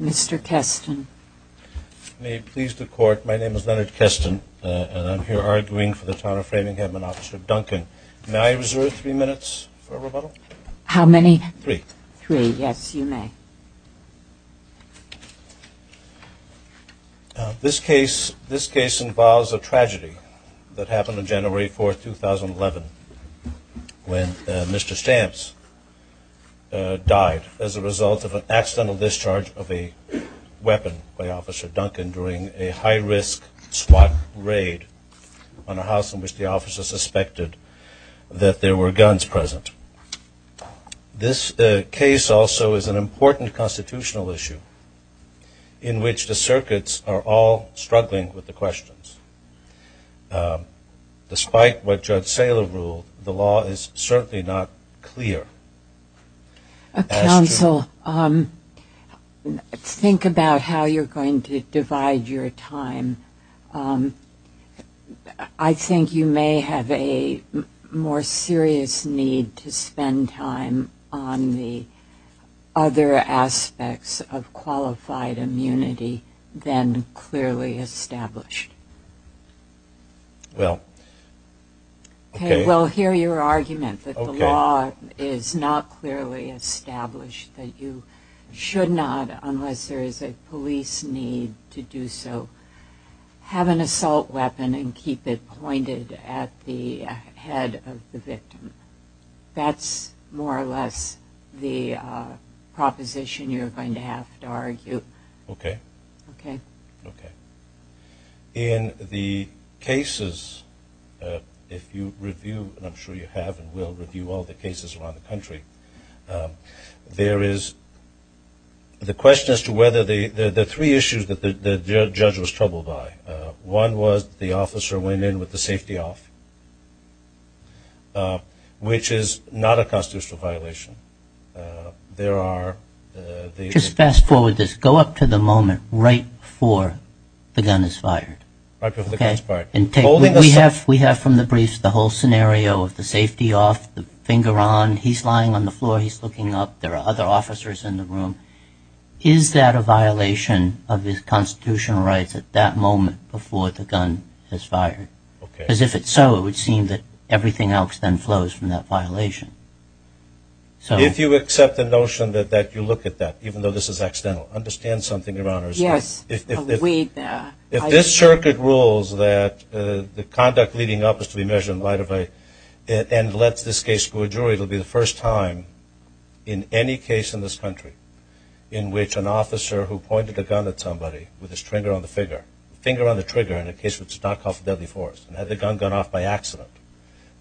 Mr. Keston. May it please the Court, my name is Leonard Keston and I'm here arguing for the Town of Framingham and Officer Duncan. May I reserve three minutes for a rebuttal? How many? Three. Three, yes, you may. This case involves a tragedy that happened on January 4, 2011 when Mr. Stamps died as a result of an accidental discharge of a weapon by Officer Duncan during a high-risk SWAT raid on a house in which the officer suspected that there were This case also is an important constitutional issue in which the circuits are all struggling with the questions. Despite what Judge Saylor ruled, the law is certainly not clear. Counsel, think about how you're going to divide your time. I think you may have a more serious need to spend on the other aspects of qualified immunity than clearly established. Well, okay. Well, hear your argument that the law is not clearly established, that you should not, unless there is a police need to do so, have an assault weapon and keep it pointed at the head of the victim. That's more or less the proposition you're going to have to argue. Okay. Okay. Okay. In the cases, if you review, and I'm sure you have and will review all the cases around the country, there is the question as to whether the three issues that the judge was troubled by. One was the officer went in with the safety off, which is not a constitutional violation. There are... Just fast forward this. Go up to the moment right before the gun is fired. Right before the gun is fired. We have from the briefs the whole scenario of the safety off, the finger on, he's lying on the floor, he's looking up, there are other officers in the room. Is that a violation of his constitutional rights at that moment before the gun is fired? Because if it's so, it would seem that everything else then flows from that violation. So... If you accept the notion that you look at that, even though this is accidental, understand something, Your Honors. Yes. If this circuit rules that the conduct leading up is to be measured in light of a... and lets this case go to a jury, it will be the first time in any case in this country in which an officer who pointed a gun at somebody with his finger on the trigger in a case which is not called for deadly force and had the gun gone off by accident,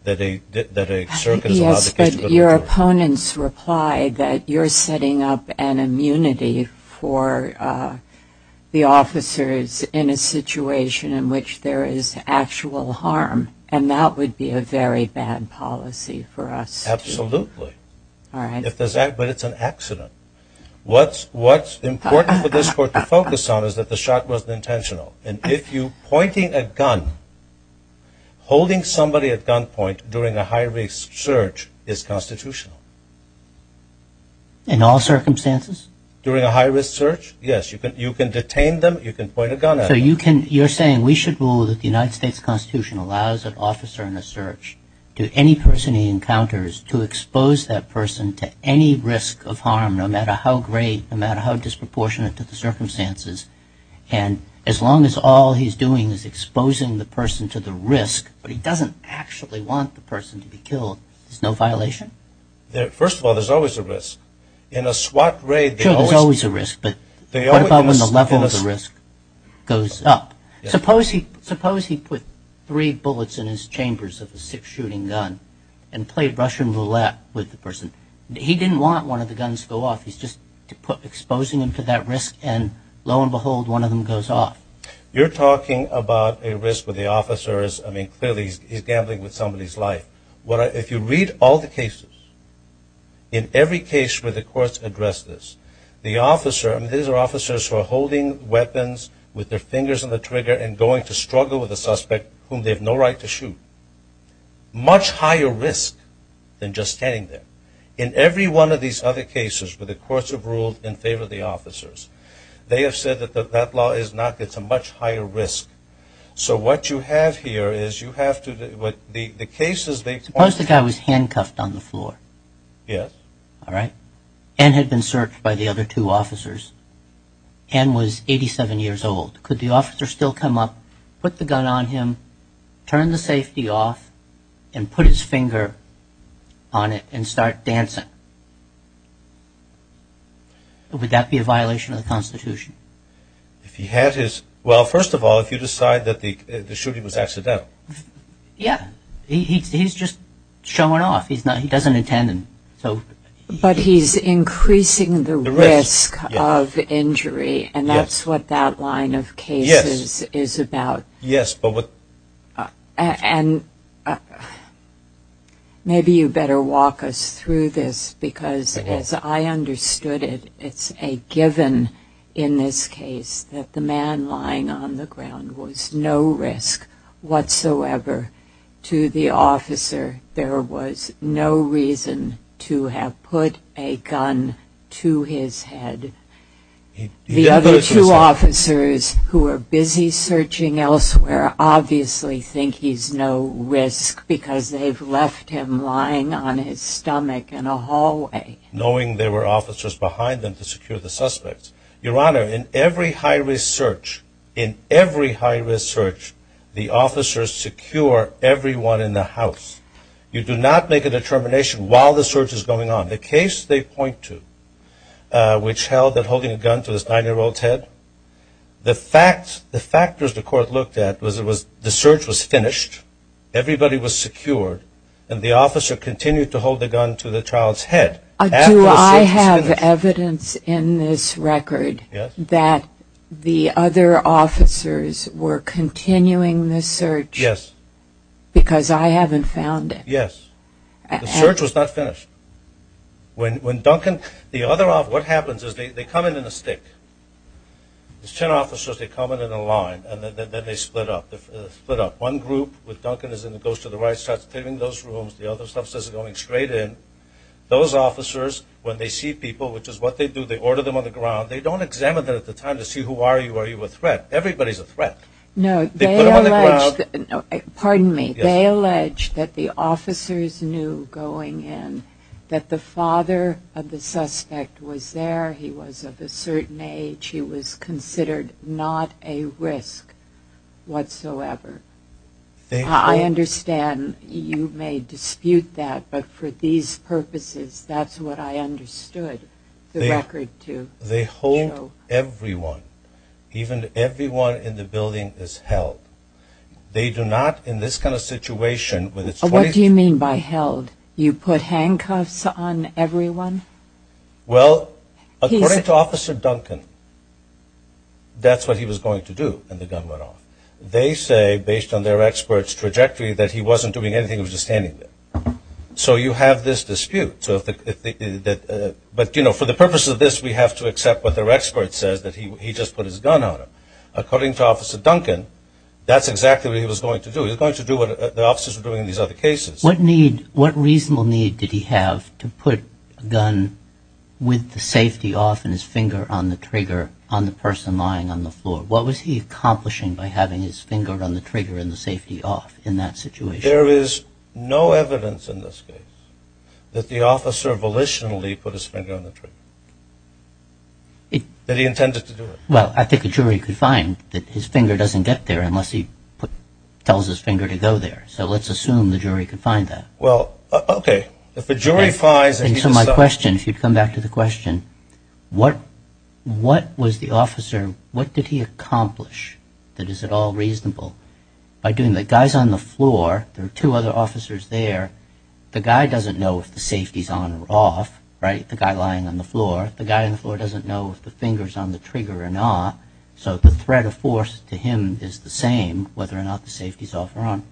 that a circuit is allowed... Yes, but your opponents replied that you're setting up an immunity for the officers in a policy for us to... Absolutely. All right. But it's an accident. What's important for this court to focus on is that the shot wasn't intentional. And if you're pointing a gun, holding somebody at gunpoint during a high-risk search is constitutional. In all circumstances? During a high-risk search, yes. You can detain them, you can point a gun at them. So you're saying we should rule that the United States Constitution allows an officer in a search to any person he encounters to expose that person to any risk of harm, no matter how great, no matter how disproportionate to the circumstances, and as long as all he's doing is exposing the person to the risk, but he doesn't actually want the person to be killed, there's no violation? First of all, there's always a risk. In a SWAT raid... Sure, there's always a risk, but what about when the level of the risk goes up? Suppose he put three bullets in his chambers of a six-shooting gun and played Russian roulette with the person. He didn't want one of the guns to go off. He's just exposing him to that risk, and lo and behold, one of them goes off. You're talking about a risk with the officers. I mean, clearly, he's gambling with somebody's life. If you read all the cases, in every case where the courts address this, these are officers who are holding weapons with their fingers on the trigger and going to struggle with a suspect whom they have no right to shoot. Much higher risk than just standing there. In every one of these other cases where the courts have ruled in favor of the officers, they have said that that law is not... it's a much higher risk. So what you have here is you have to... the cases they... Suppose the guy was handcuffed on the floor. Yes. All right. And had been searched by the other two officers. And was 87 years old. Could the officer still come up, put the gun on him, turn the safety off, and put his finger on it and start dancing? Would that be a violation of the Constitution? If he had his... well, first of all, if you decide that the shooting was accidental. Yeah. He's just showing off. He's not... he doesn't intend... But he's increasing the risk of injury, and that's what that line of cases is about. Yes, but what... And maybe you better walk us through this, because as I understood it, it's a given in this case that the man lying on the ground was no risk whatsoever to the officer. There was no reason to have put a gun to his head. The other two officers who are busy searching elsewhere obviously think he's no risk, because they've left him lying on his stomach in a hallway. Knowing there were officers behind them to secure the suspects. Your Honor, in every high-risk search, in every high-risk search, the officers secure everyone in the house. You do not make a determination while the search is going on. The case they point to, which held that holding a gun to this nine-year-old's head, the factors the court looked at was the search was finished, everybody was secured, and the officer continued to hold the gun to the child's head. Do I have evidence in this record that the other officers were continuing the search? Yes. Because I haven't found it. Yes. The search was not finished. When Duncan... The other officer... What happens is they come in in a stick. There's 10 officers, they come in in a line, and then they split up. They split up. One group with Duncan is in goes to the right, starts clearing those rooms. The other officers are going straight in. Those officers, when they see people, which is what they do, they order them on the ground. They don't examine them at the time to see who are you, are you a threat. Everybody's a threat. No. Pardon me. They allege that the officers knew going in that the father of the suspect was there. He was of a certain age. He was considered not a risk whatsoever. I understand you may dispute that, but for these purposes, that's what I understood. They hold everyone, even everyone in the building is held. They do not, in this kind of situation... What do you mean by held? You put handcuffs on everyone? Well, according to Officer Duncan, that's what he was going to do, and the gun went off. They say, based on their expert's trajectory, that he wasn't doing anything. He was just standing there. So you have this dispute. But, you know, for the purpose of this, we have to accept what their expert says, that he just put his gun on him. According to Officer Duncan, that's exactly what he was going to do. He was going to do what the officers were doing in these other cases. What need, what reasonable need did he have to put a gun with the safety off and his finger on the trigger on the person lying on the floor? What was he accomplishing by having his finger on the trigger and the safety off in that situation? There is no evidence in this case that the officer volitionally put his finger on the trigger. That he intended to do it. Well, I think a jury could find that his finger doesn't get there unless he tells his finger to go there. So let's assume the jury could find that. Well, okay. If a jury finds... And so my question, if you'd come back to the question, what was the officer, what did he accomplish that is at all reasonable? By doing the guys on the floor, there are two other officers there. The guy doesn't know if the safety's on or off, right? The guy lying on the floor. The guy on the floor doesn't know if the finger's on the trigger or not. So the threat of force to him is the same, whether or not the safety's off or on.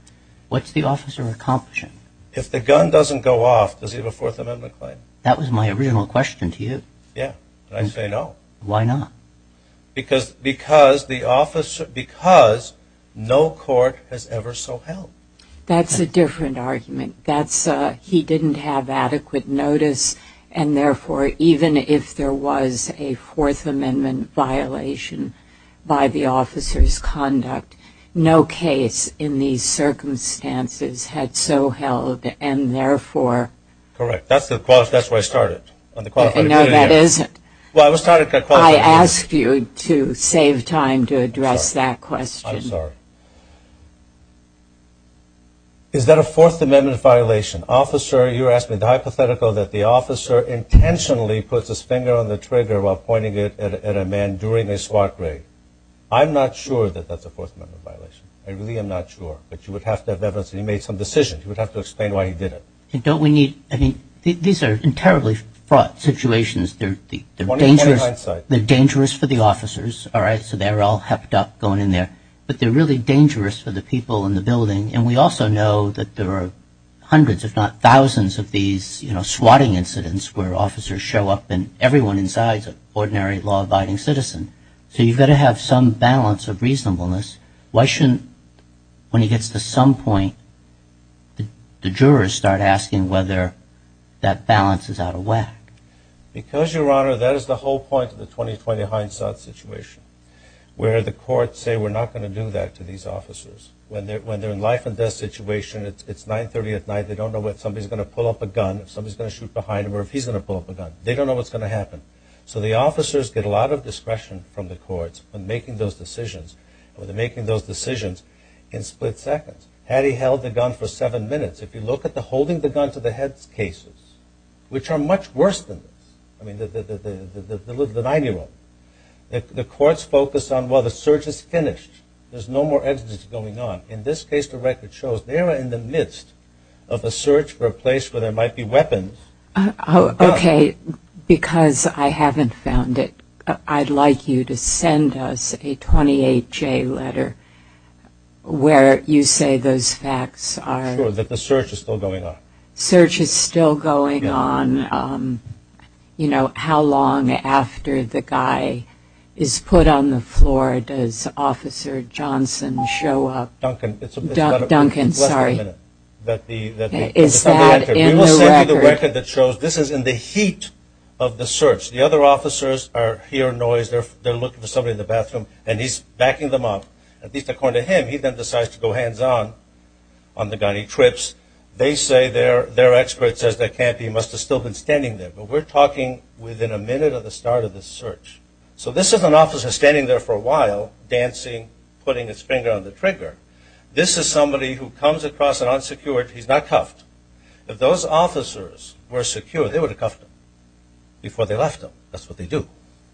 What's the officer accomplishing? If the gun doesn't go off, does he have a Fourth Amendment claim? That was my original question to you. Yeah. I say no. Why not? Because no court has ever so held. That's a different argument. He didn't have adequate notice. And therefore, even if there was a Fourth Amendment violation by the officer's conduct, no case in these circumstances had so held. And therefore... Correct. That's where I started. No, that isn't. Well, I was trying to... I asked you to save time to address that question. I'm sorry. Is that a Fourth Amendment violation? Officer, you're asking the hypothetical that the officer intentionally puts his finger on the trigger while pointing it at a man during a SWAT raid. I'm not sure that that's a Fourth Amendment violation. I really am not sure. But you would have to have evidence that he made some decisions. You would have to explain why he did it. Don't we need... I mean, these are terribly fraught situations. They're dangerous for the officers. All right. So they're all hepped up going in there. But they're really dangerous for the people in the building. And we also know that there are hundreds, if not thousands, of these SWATing incidents where officers show up and everyone inside is an ordinary law-abiding citizen. So you've got to have some balance of reasonableness. Why shouldn't, when it gets to some point, the jurors start asking whether that balance is out of whack? Because, Your Honor, that is the whole point of the 20-20 hindsight situation, where the courts say, we're not going to do that to these officers. When they're in a life-and-death situation, it's 930 at night. They don't know if somebody's going to pull up a gun, if somebody's going to shoot behind them, or if he's going to pull up a gun. They don't know what's going to happen. So the officers get a lot of discretion from the courts when making those decisions. When they're making those decisions in split seconds. Had he held the gun for seven minutes? If you look at the holding the gun to the head cases, which are much worse than this, I mean, the nine-year-old, the courts focus on, well, the search is finished. There's no more evidence going on. In this case, the record shows they are in the midst of a search for a place where there might be weapons. Okay, because I haven't found it. I'd like you to send us a 28-J letter where you say those facts are... Sure, that the search is still going on. Search is still going on. You know, how long after the guy is put on the floor, does Officer Johnson show up? Duncan, it's less than a minute. Is that in the record? We will send you the record that shows this is in the heat of the search. The other officers hear a noise. They're looking for somebody in the bathroom, and he's backing them up. At least according to him, he then decides to go hands-on on the gun. He trips. They say their expert says that can't be. He must have still been standing there. But we're talking within a minute of the start of the search. So this is an officer standing there for a while, dancing, putting his finger on the trigger. This is somebody who comes across an unsecured. He's not cuffed. If those officers were secure, they would have cuffed him before they left him. That's what they do.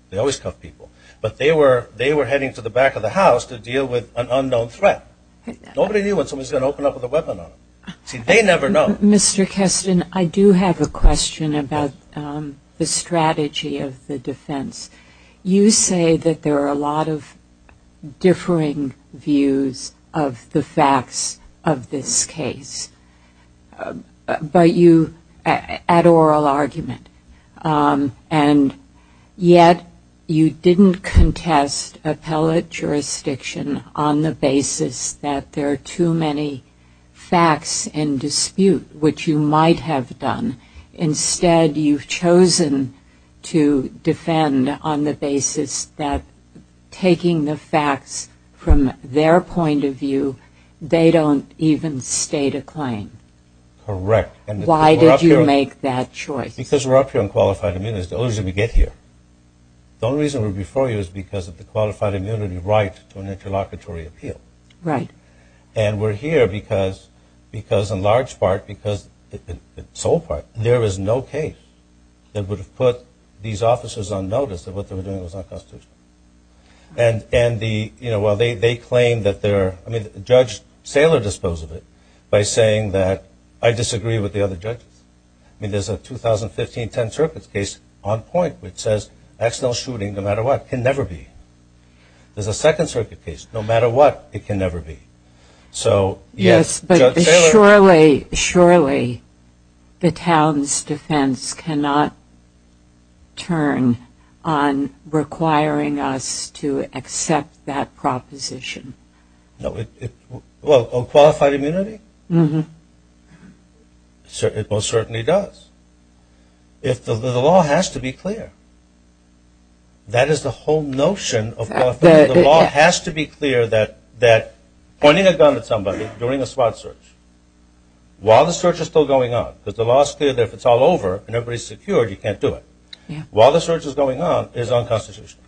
They always cuff people. But they were heading to the back of the house to deal with an unknown threat. Nobody knew when somebody was going to open up with a weapon on them. See, they never know. Mr. Keston, I do have a question about the strategy of the defense. You say that there are a lot of differing views of the facts of this case. But you add oral argument. And yet, you didn't contest appellate jurisdiction on the basis that there are too many facts in dispute, which you might have done. Instead, you've chosen to defend on the basis that taking the facts from their point of view. Why did you make that choice? Because we're up here on qualified immunity. It's the only reason we get here. The only reason we're before you is because of the qualified immunity right to an interlocutory appeal. Right. And we're here because, in large part, in sole part, there is no case that would have put these officers on notice that what they were doing was unconstitutional. And while they claim that they're – I mean, Judge Saylor disposed of it by saying that I disagree with the other judges. I mean, there's a 2015 10th Circuit case on point which says accidental shooting, no matter what, can never be. There's a 2nd Circuit case. No matter what, it can never be. So, yes, Judge Saylor – to accept that proposition. No, it – well, on qualified immunity? It most certainly does. If – the law has to be clear. That is the whole notion of – the law has to be clear that pointing a gun at somebody during a SWAT search, while the search is still going on – because the law is clear that if it's all over and everybody's secured, you can't do it – while the search is going on, it's unconstitutional.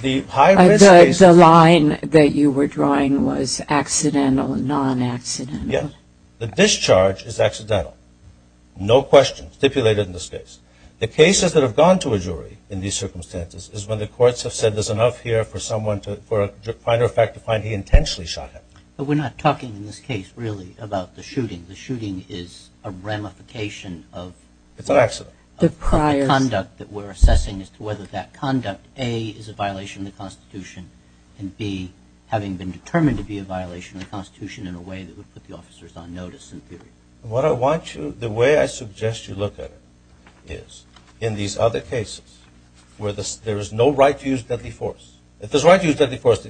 The high-risk cases – The line that you were drawing was accidental, non-accidental. Yes. The discharge is accidental. No question stipulated in this case. The cases that have gone to a jury in these circumstances is when the courts have said there's enough here for someone to – for a minor offender to find he intentionally shot him. But we're not talking in this case, really, about the shooting. The shooting is a ramification of – It's an accident. The prior – Of the conduct that we're assessing as to whether that conduct, A, is a violation of the Constitution, and B, having been determined to be a violation of the Constitution in a way that would put the officers on notice, in theory. What I want you – the way I suggest you look at it is in these other cases where there is no right to use deadly force – if there's a right to use deadly force,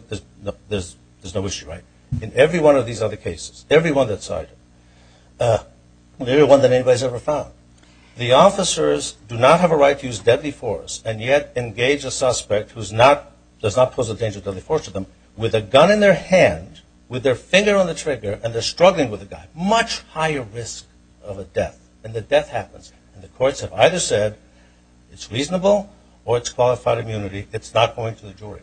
there's no issue, right? In every one of these other cases, every one that's cited, they're the one that anybody's ever found. The officers do not have a right to use deadly force and yet engage a suspect who's not – does not pose a danger to the force of them with a gun in their hand, with their finger on the trigger, and they're struggling with the guy. Much higher risk of a death. And the death happens. And the courts have either said it's reasonable or it's qualified immunity. It's not going to the jury.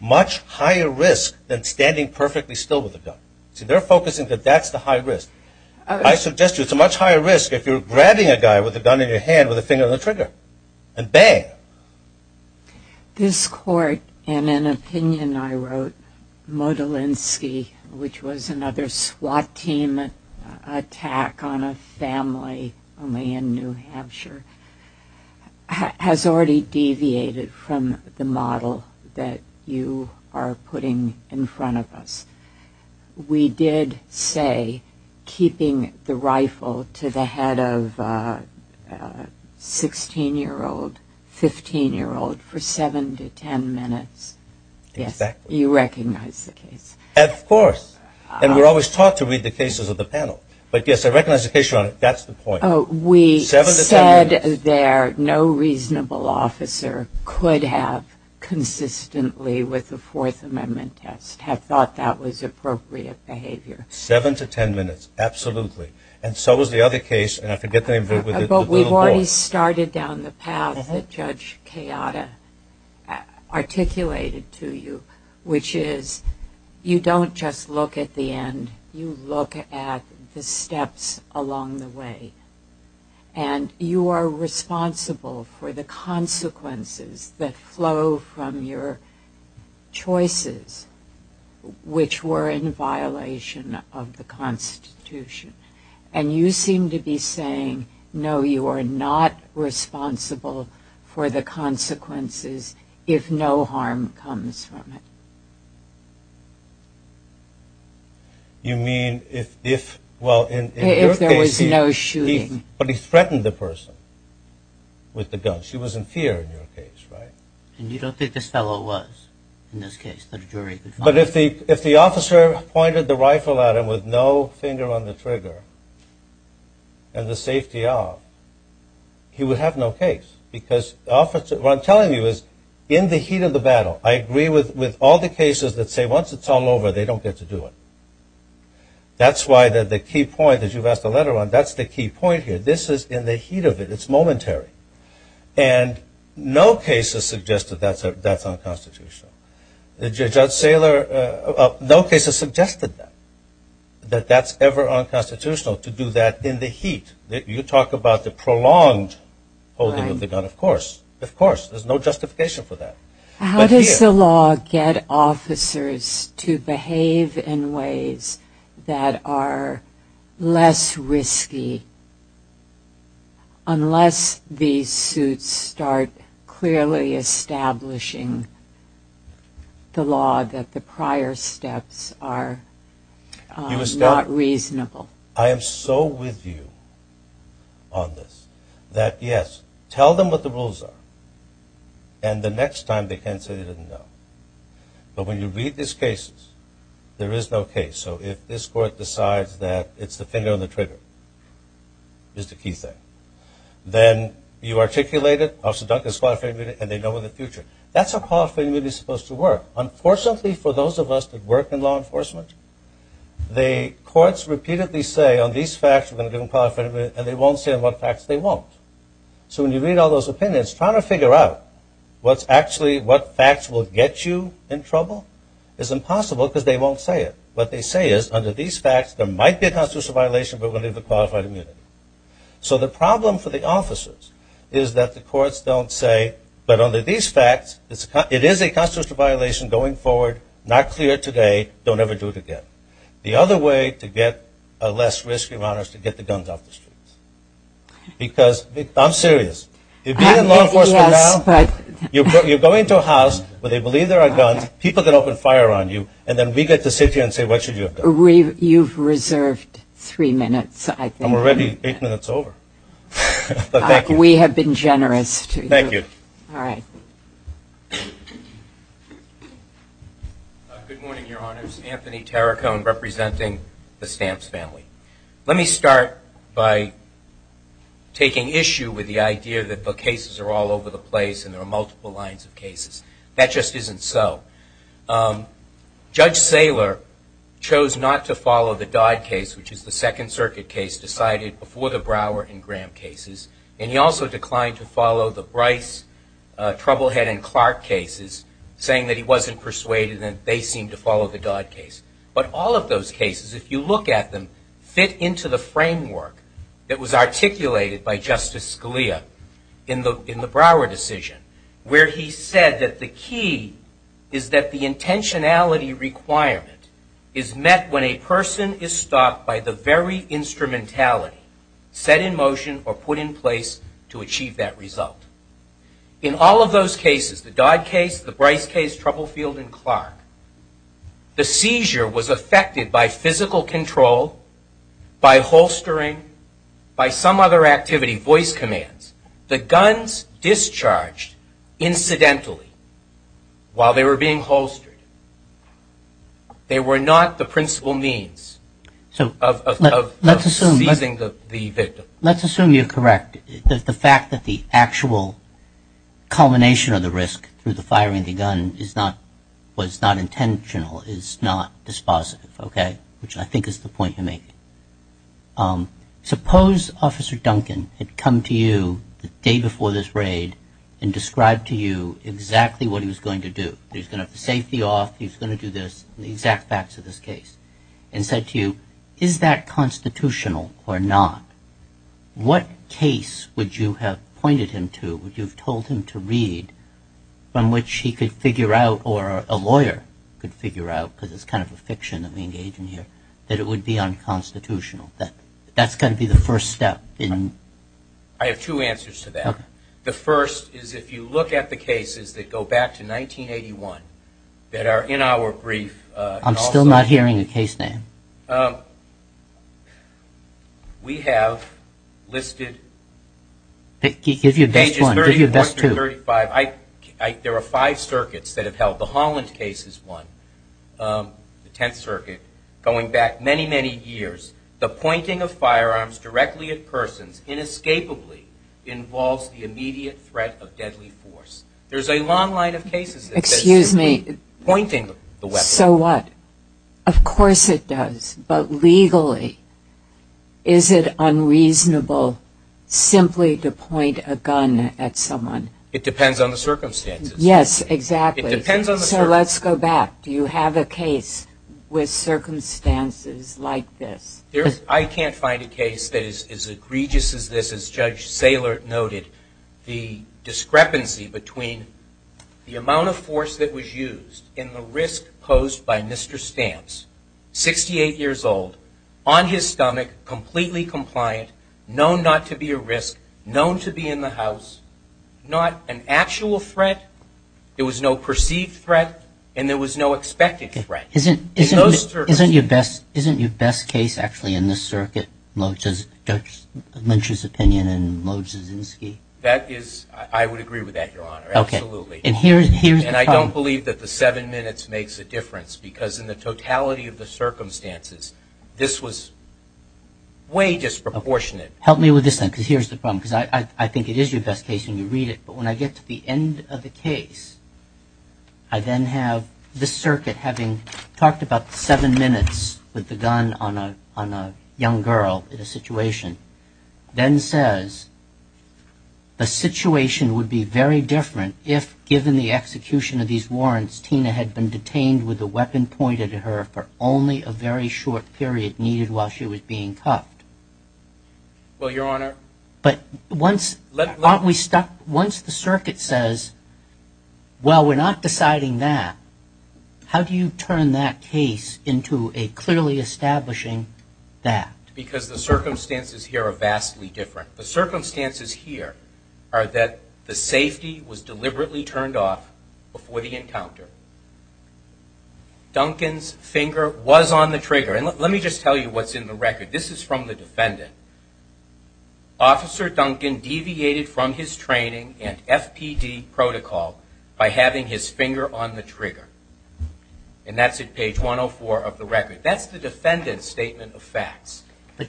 Much higher risk than standing perfectly still with a gun. See, they're focusing that that's the high risk. I suggest you it's a much higher risk if you're grabbing a guy with a gun in your hand with a finger on the trigger and bang. This court, in an opinion I wrote, Modelinsky, which was another SWAT team attack on a family only in New Hampshire, has already deviated from the model that you are putting in front of us. We did say keeping the rifle to the head of a 16-year-old, 15-year-old for 7 to 10 minutes. Yes, you recognize the case. Of course. And we're always taught to read the cases of the panel. But yes, I recognize the case you're on. That's the point. Oh, we said there no reasonable officer could have consistently with the Fourth Amendment test have thought that was appropriate behavior. 7 to 10 minutes. Absolutely. And so was the other case. And I forget the name of it. But we've already started down the path that Judge Kayada articulated to you, which is you don't just look at the end. You look at the steps along the way. And you are responsible for the consequences that flow from your choices, which were in violation of the Constitution. And you seem to be saying, no, you are not responsible for the consequences if no harm comes from it. You mean if, well, in your case, he threatened the person with the gun. She was in fear in your case, right? And you don't think this fellow was, in this case, that a jury could find him? But if the officer pointed the rifle at him with no finger on the trigger and the safety off, he would have no case. Because what I'm telling you is, in the heat of the battle, I agree with all the cases that say once it's all over, they don't get to do it. That's why the key point, as you've asked a letter on, that's the key point here. This is in the heat of it. It's momentary. And no case has suggested that's unconstitutional. Judge Saylor, no case has suggested that, that that's ever unconstitutional to do that in the heat. You talk about the prolonged holding of the gun, of course. Of course. There's no justification for that. How does the law get officers to behave in ways that are less risky unless these suits start clearly establishing the law that the prior steps are not reasonable? I am so with you on this. That, yes, tell them what the rules are. And the next time, they can say they didn't know. But when you read these cases, there is no case. So if this court decides that it's the finger on the trigger is the key thing, then you articulate it. Officer Duncan is qualified immunity, and they know in the future. That's how qualified immunity is supposed to work. Unfortunately, for those of us that work in law enforcement, the courts repeatedly say, on these facts, we're going to give them qualified immunity. And they won't say on what facts they won't. So when you read all those opinions, trying to figure out what's actually, what facts will get you in trouble is impossible because they won't say it. What they say is, under these facts, there might be a constitutional violation. But we're going to give them qualified immunity. So the problem for the officers is that the courts don't say, but under these facts, it is a constitutional violation going forward. Not clear today. Don't ever do it again. The other way to get less risk, Your Honor, is to get the guns off the streets. Because I'm serious. If you're in law enforcement now, you're going to a house where they believe there are guns, people can open fire on you, and then we get to sit here and say, what should you have done? You've reserved three minutes, I think. I'm already eight minutes over. We have been generous to you. Thank you. All right. Good morning, Your Honors. Anthony Terracone, representing the Stamps family. Let me start by taking issue with the idea that the cases are all over the place and there are multiple lines of cases. That just isn't so. Judge Saylor chose not to follow the Dodd case, which is the Second Circuit case decided before the Brower and Graham cases. He also declined to follow the Bryce, Troublehead, and Clark cases, saying that he wasn't persuaded and they seemed to follow the Dodd case. But all of those cases, if you look at them, fit into the framework that was articulated by Justice Scalia in the Brower decision, where he said that the key is that the intentionality requirement is met when a person is stopped by the very instrumentality set in motion or put in place to achieve that result. In all of those cases, the Dodd case, the Bryce case, Troublefield, and Clark, the seizure was affected by physical control, by holstering, by some other activity, voice commands. The guns discharged incidentally while they were being holstered. They were not the principal means of seizing the victim. Let's assume you're correct. The fact that the actual culmination of the risk through the firing of the gun was not intentional, is not dispositive, which I think is the point you're making. Suppose Officer Duncan had come to you the day before this raid and described to you exactly what he was going to do. He was going to have the safety off. He was going to do this, the exact facts of this case, and said to you, is that constitutional or not? What case would you have pointed him to? Would you have told him to read from which he could figure out or a lawyer could figure out, because it's kind of a fiction that we engage in here, that it would be unconstitutional? That's got to be the first step. I have two answers to that. The first is if you look at the cases that go back to 1981 that are in our brief. I'm still not hearing a case name. We have listed pages 31 through 35. There are five circuits that have held. The Holland case is one, the Tenth Circuit, going back many, many years. The pointing of firearms directly at persons inescapably involves the immediate threat of deadly force. There's a long line of cases that point to pointing the weapon. So what? Of course it does. But legally, is it unreasonable simply to point a gun at someone? It depends on the circumstances. Yes, exactly. It depends on the circumstances. So let's go back. Do you have a case with circumstances like this? I can't find a case that is as egregious as this, as Judge Saylor noted. The discrepancy between the amount of force that was used and the risk posed by Mr. Stamps, 68 years old, on his stomach, completely compliant, known not to be a risk, known to be in the house, not an actual threat. There was no perceived threat. And there was no expected threat in those circuits. Isn't your best case actually in this circuit Judge Lynch's opinion and Lodzczynski? That is, I would agree with that, Your Honor. Absolutely. And here's the problem. I believe that the seven minutes makes a difference, because in the totality of the circumstances, this was way disproportionate. Help me with this then, because here's the problem. Because I think it is your best case when you read it. But when I get to the end of the case, I then have the circuit having talked about the seven minutes with the gun on a young girl in a situation, then says, the situation would be very different if, given the execution of these warrants, Tina had been detained with a weapon pointed at her for only a very short period needed while she was being cuffed. Well, Your Honor. But once the circuit says, well, we're not deciding that, how do you turn that case into a clearly establishing that? Because the circumstances here are vastly different. The circumstances here are that the safety was deliberately turned off before the encounter. Duncan's finger was on the trigger. And let me just tell you what's in the record. This is from the defendant. Officer Duncan deviated from his training and FPD protocol by having his finger on the trigger. And that's at page 104 of the record. That's the defendant's statement of facts.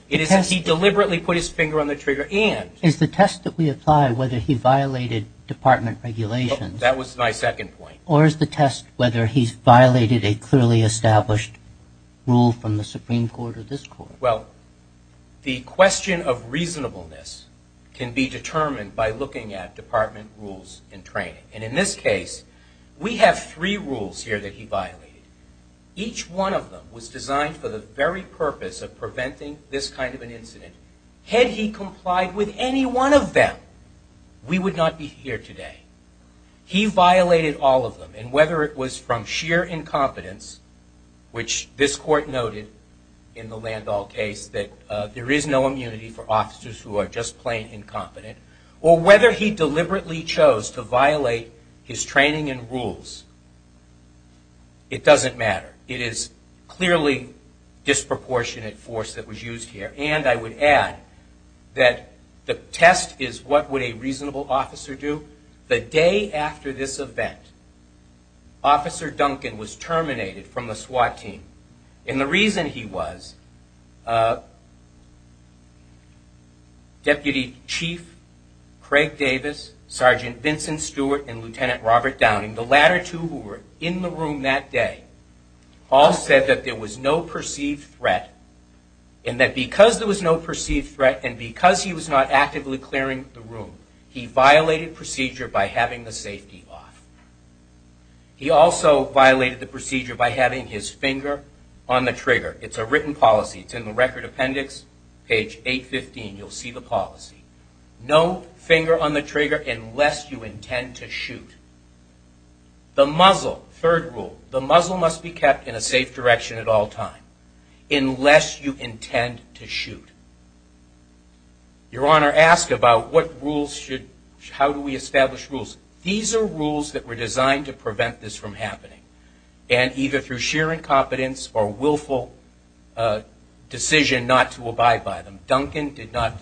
It is that he deliberately put his finger on the trigger and- Is the test that we apply whether he violated department regulations- That was my second point. Or is the test whether he's violated a clearly established rule from the Supreme Court or this court? Well, the question of reasonableness can be determined by looking at department rules and training. And in this case, we have three rules here that he violated. Each one of them was designed for the very purpose of preventing this kind of an incident. Had he complied with any one of them, we would not be here today. He violated all of them. And whether it was from sheer incompetence, which this court noted in the Landau case that there is no immunity for officers who are just plain incompetent, or whether he It is clearly disproportionate force that was used here. And I would add that the test is what would a reasonable officer do? The day after this event, Officer Duncan was terminated from the SWAT team. And the reason he was, Deputy Chief Craig Davis, Sergeant Vincent Stewart, and Lieutenant Robert Downing, the latter two who were in the room that day, all said that there was no perceived threat. And that because there was no perceived threat, and because he was not actively clearing the room, he violated procedure by having the safety off. He also violated the procedure by having his finger on the trigger. It's a written policy. It's in the record appendix, page 815. You'll see the policy. No finger on the trigger unless you intend to shoot. The muzzle, third rule, the muzzle must be kept in a safe direction at all times, unless you intend to shoot. Your Honor, ask about what rules should, how do we establish rules? These are rules that were designed to prevent this from happening. And either through sheer incompetence or willful decision not to abide by them. Duncan did not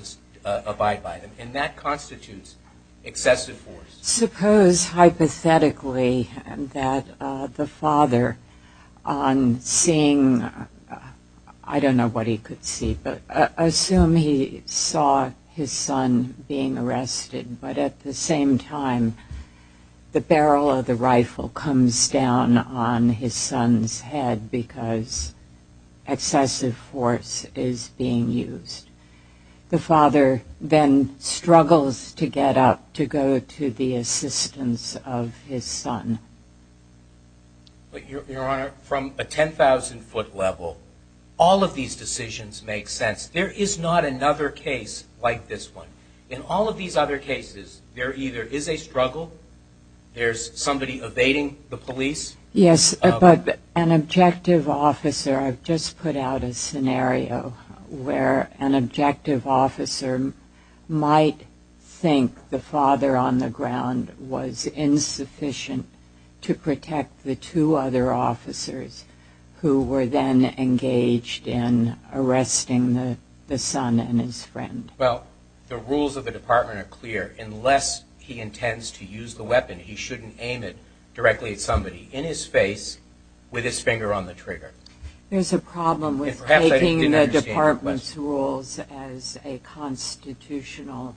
abide by them. And that constitutes excessive force. Suppose hypothetically that the father on seeing, I don't know what he could see, but assume he saw his son being arrested, but at the same time, the barrel of the rifle comes down on his son's head because excessive force is being used. The father then struggles to get up to go to the assistance of his son. But Your Honor, from a 10,000 foot level, all of these decisions make sense. There is not another case like this one. In all of these other cases, there either is a struggle, there's somebody evading the police. Yes, but an objective officer, I've just put out a scenario where an objective officer might think the father on the ground was insufficient to protect the two other officers who were then engaged in arresting the son and his friend. Well, the rules of the department are clear. Unless he intends to use the weapon, he shouldn't aim it directly at somebody. In his face, with his finger on the trigger. There's a problem with taking the department's rules as a constitutional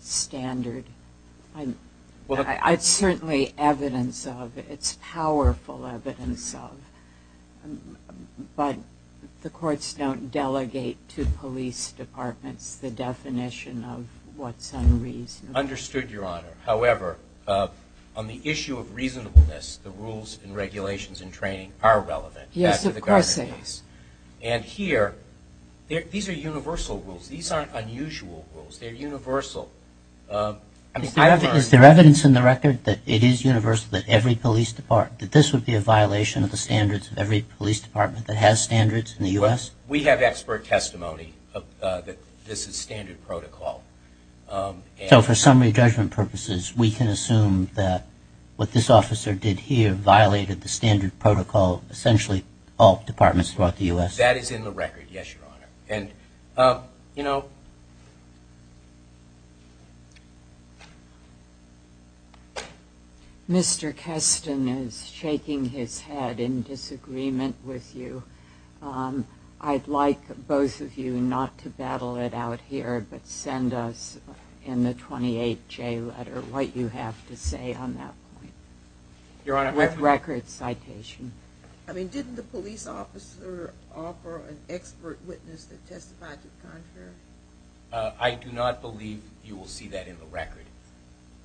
standard. It's certainly evidence of, it's powerful evidence of, but the courts don't delegate to police departments the definition of what's unreasonable. Understood, Your Honor. However, on the issue of reasonableness, the rules and regulations and training are relevant. Yes, of course, Your Honor. And here, these are universal rules. These aren't unusual rules. They're universal. Is there evidence in the record that it is universal that every police department, that this would be a violation of the standards of every police department that has standards in the U.S.? We have expert testimony that this is standard protocol. So for summary judgment purposes, we can assume that what this officer did here violated the standard protocol of essentially all departments throughout the U.S.? That is in the record, yes, Your Honor. Mr. Keston is shaking his head in disagreement with you. I'd like both of you not to battle it out here, but send us in the 28J letter what you have to say on that point with record citation. Didn't the police officer offer an expert witness that testified to the contrary? I do not believe you will see that in the record,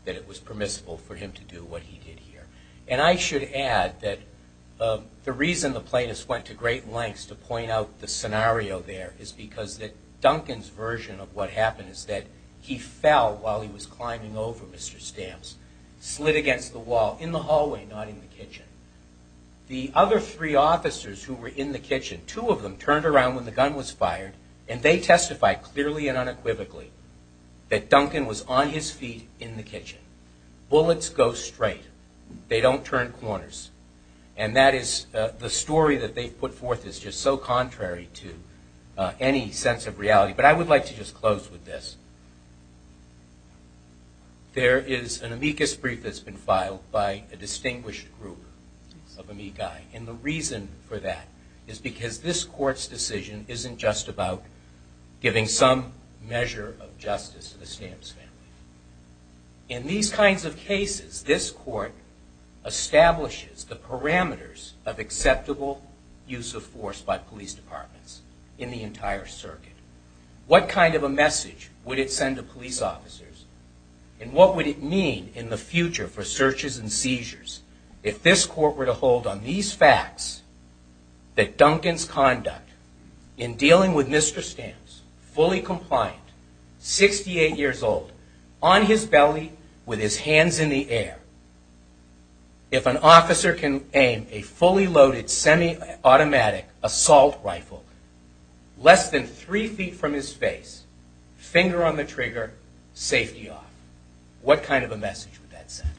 that it was permissible for him to do what he did here. And I should add that the reason the plaintiffs went to great lengths to point out the scenario there is because that Duncan's version of what happened is that he fell while he was climbing over Mr. Stamps, slid against the wall in the hallway, not in the kitchen. The other three officers who were in the kitchen, two of them turned around when the gun was fired, and they testified clearly and unequivocally that Duncan was on his feet in the kitchen. Bullets go straight. They don't turn corners. And that is the story that they put forth is just so contrary to any sense of reality. But I would like to just close with this. There is an amicus brief that's been filed by a distinguished group of amici, and the reason for that is because this Court's decision isn't just about giving some measure of justice to the Stamps family. In these kinds of cases, this Court establishes the parameters of acceptable use of force by police departments in the entire circuit. What kind of a message would it send to police officers, and what would it mean in the future for searches and seizures if this Court were to hold on these facts that Duncan's fully compliant, 68 years old, on his belly with his hands in the air? If an officer can aim a fully loaded semi-automatic assault rifle less than three feet from his face, finger on the trigger, safety off, what kind of a message would that send?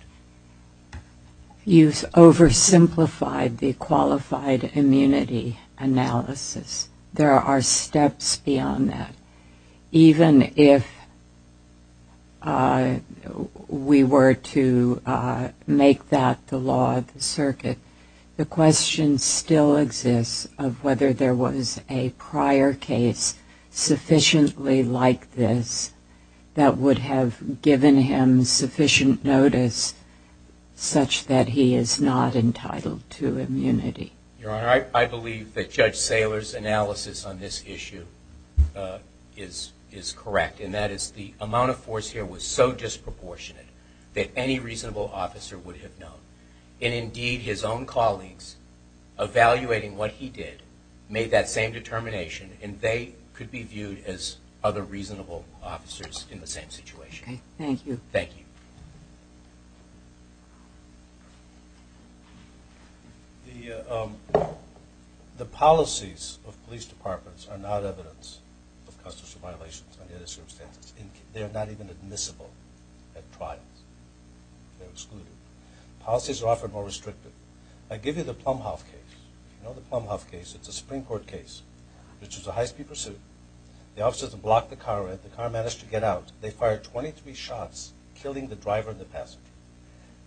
You've oversimplified the qualified immunity analysis. There are steps beyond that. Even if we were to make that the law of the circuit, the question still exists of whether there was a prior case sufficiently like this that would have given him sufficient notice such that he is not entitled to immunity. Your Honor, I believe that Judge Saylor's analysis on this issue is correct, and that is the amount of force here was so disproportionate that any reasonable officer would have known. And indeed, his own colleagues, evaluating what he did, made that same determination, and they could be viewed as other reasonable officers in the same situation. Okay. Thank you. Thank you. The policies of police departments are not evidence of constitutional violations under this circumstance. They are not even admissible at trials. They're excluded. Policies are often more restrictive. I give you the Plumhoff case. You know the Plumhoff case. It's a Supreme Court case, which is a high speed pursuit. The officers have blocked the car in. The car managed to get out. They fired 23 shots, killing the driver and the passenger.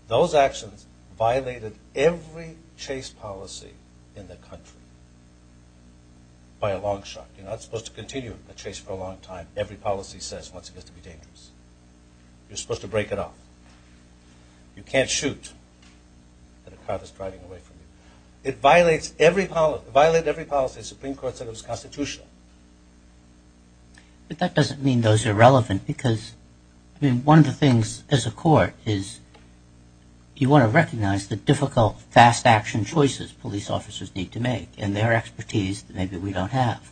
Those actions violated every chase policy in the country by a long shot. You're not supposed to continue a chase for a long time. Every policy says once it gets to be dangerous. You're supposed to break it off. You can't shoot at a car that's driving away from you. It violates every policy. Supreme Court said it was constitutional. But that doesn't mean those are relevant. I mean, one of the things as a court is you want to recognize the difficult, fast action choices police officers need to make and their expertise that maybe we don't have.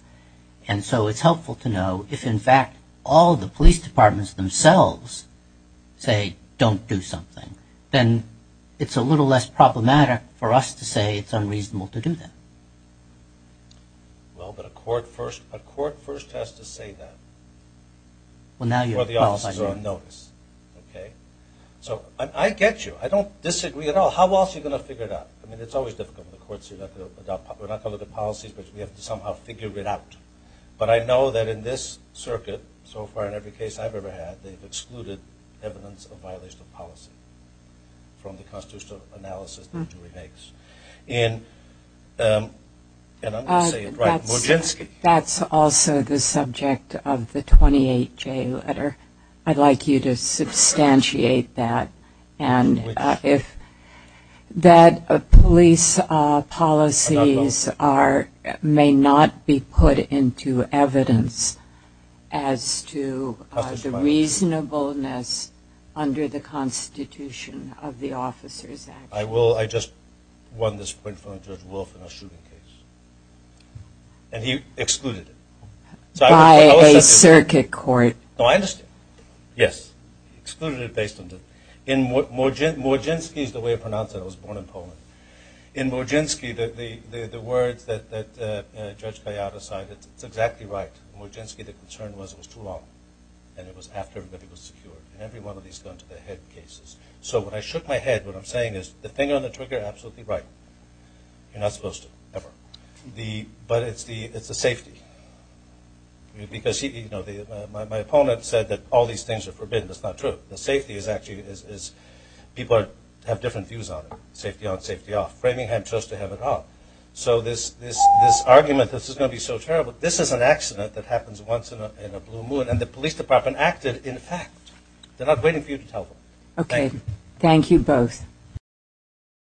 And so it's helpful to know if, in fact, all the police departments themselves say don't do something. Then it's a little less problematic for us to say it's unreasonable to do that. Well, but a court first has to say that. Well, now you're qualifying. Well, the officers are on notice, OK? So I get you. I don't disagree at all. How else are you going to figure it out? I mean, it's always difficult when the courts say we're not going to look at policies, but we have to somehow figure it out. But I know that in this circuit, so far in every case I've ever had, they've excluded evidence of violation of policy from the constitutional analysis that Dewey makes. And I'm going to say it right. That's also the subject of the 28-J letter. I'd like you to substantiate that, and if that police policies may not be put into evidence as to the reasonableness under the Constitution of the Officers Act. I will. I just won this point from Judge Wolf in a shooting case. And he excluded it. By a circuit court. No, I understand. Yes. He excluded it based on the... In Morczynski's, the way I pronounce it, I was born in Poland. In Morczynski, the words that Judge Kayada cited, it's exactly right. In Morczynski, the concern was it was too long, and it was after everybody was secure. In every one of these guns to the head cases. So when I shook my head, what I'm saying is the finger on the trigger, absolutely right. You're not supposed to, ever. But it's the safety. Because my opponent said that all these things are forbidden. That's not true. The safety is actually... People have different views on it. Safety on, safety off. Framingham chose to have it off. So this argument, this is going to be so terrible. This is an accident that happens once in a blue moon. And the police department acted, in fact. They're not waiting for you to tell them. Okay. Thank you both.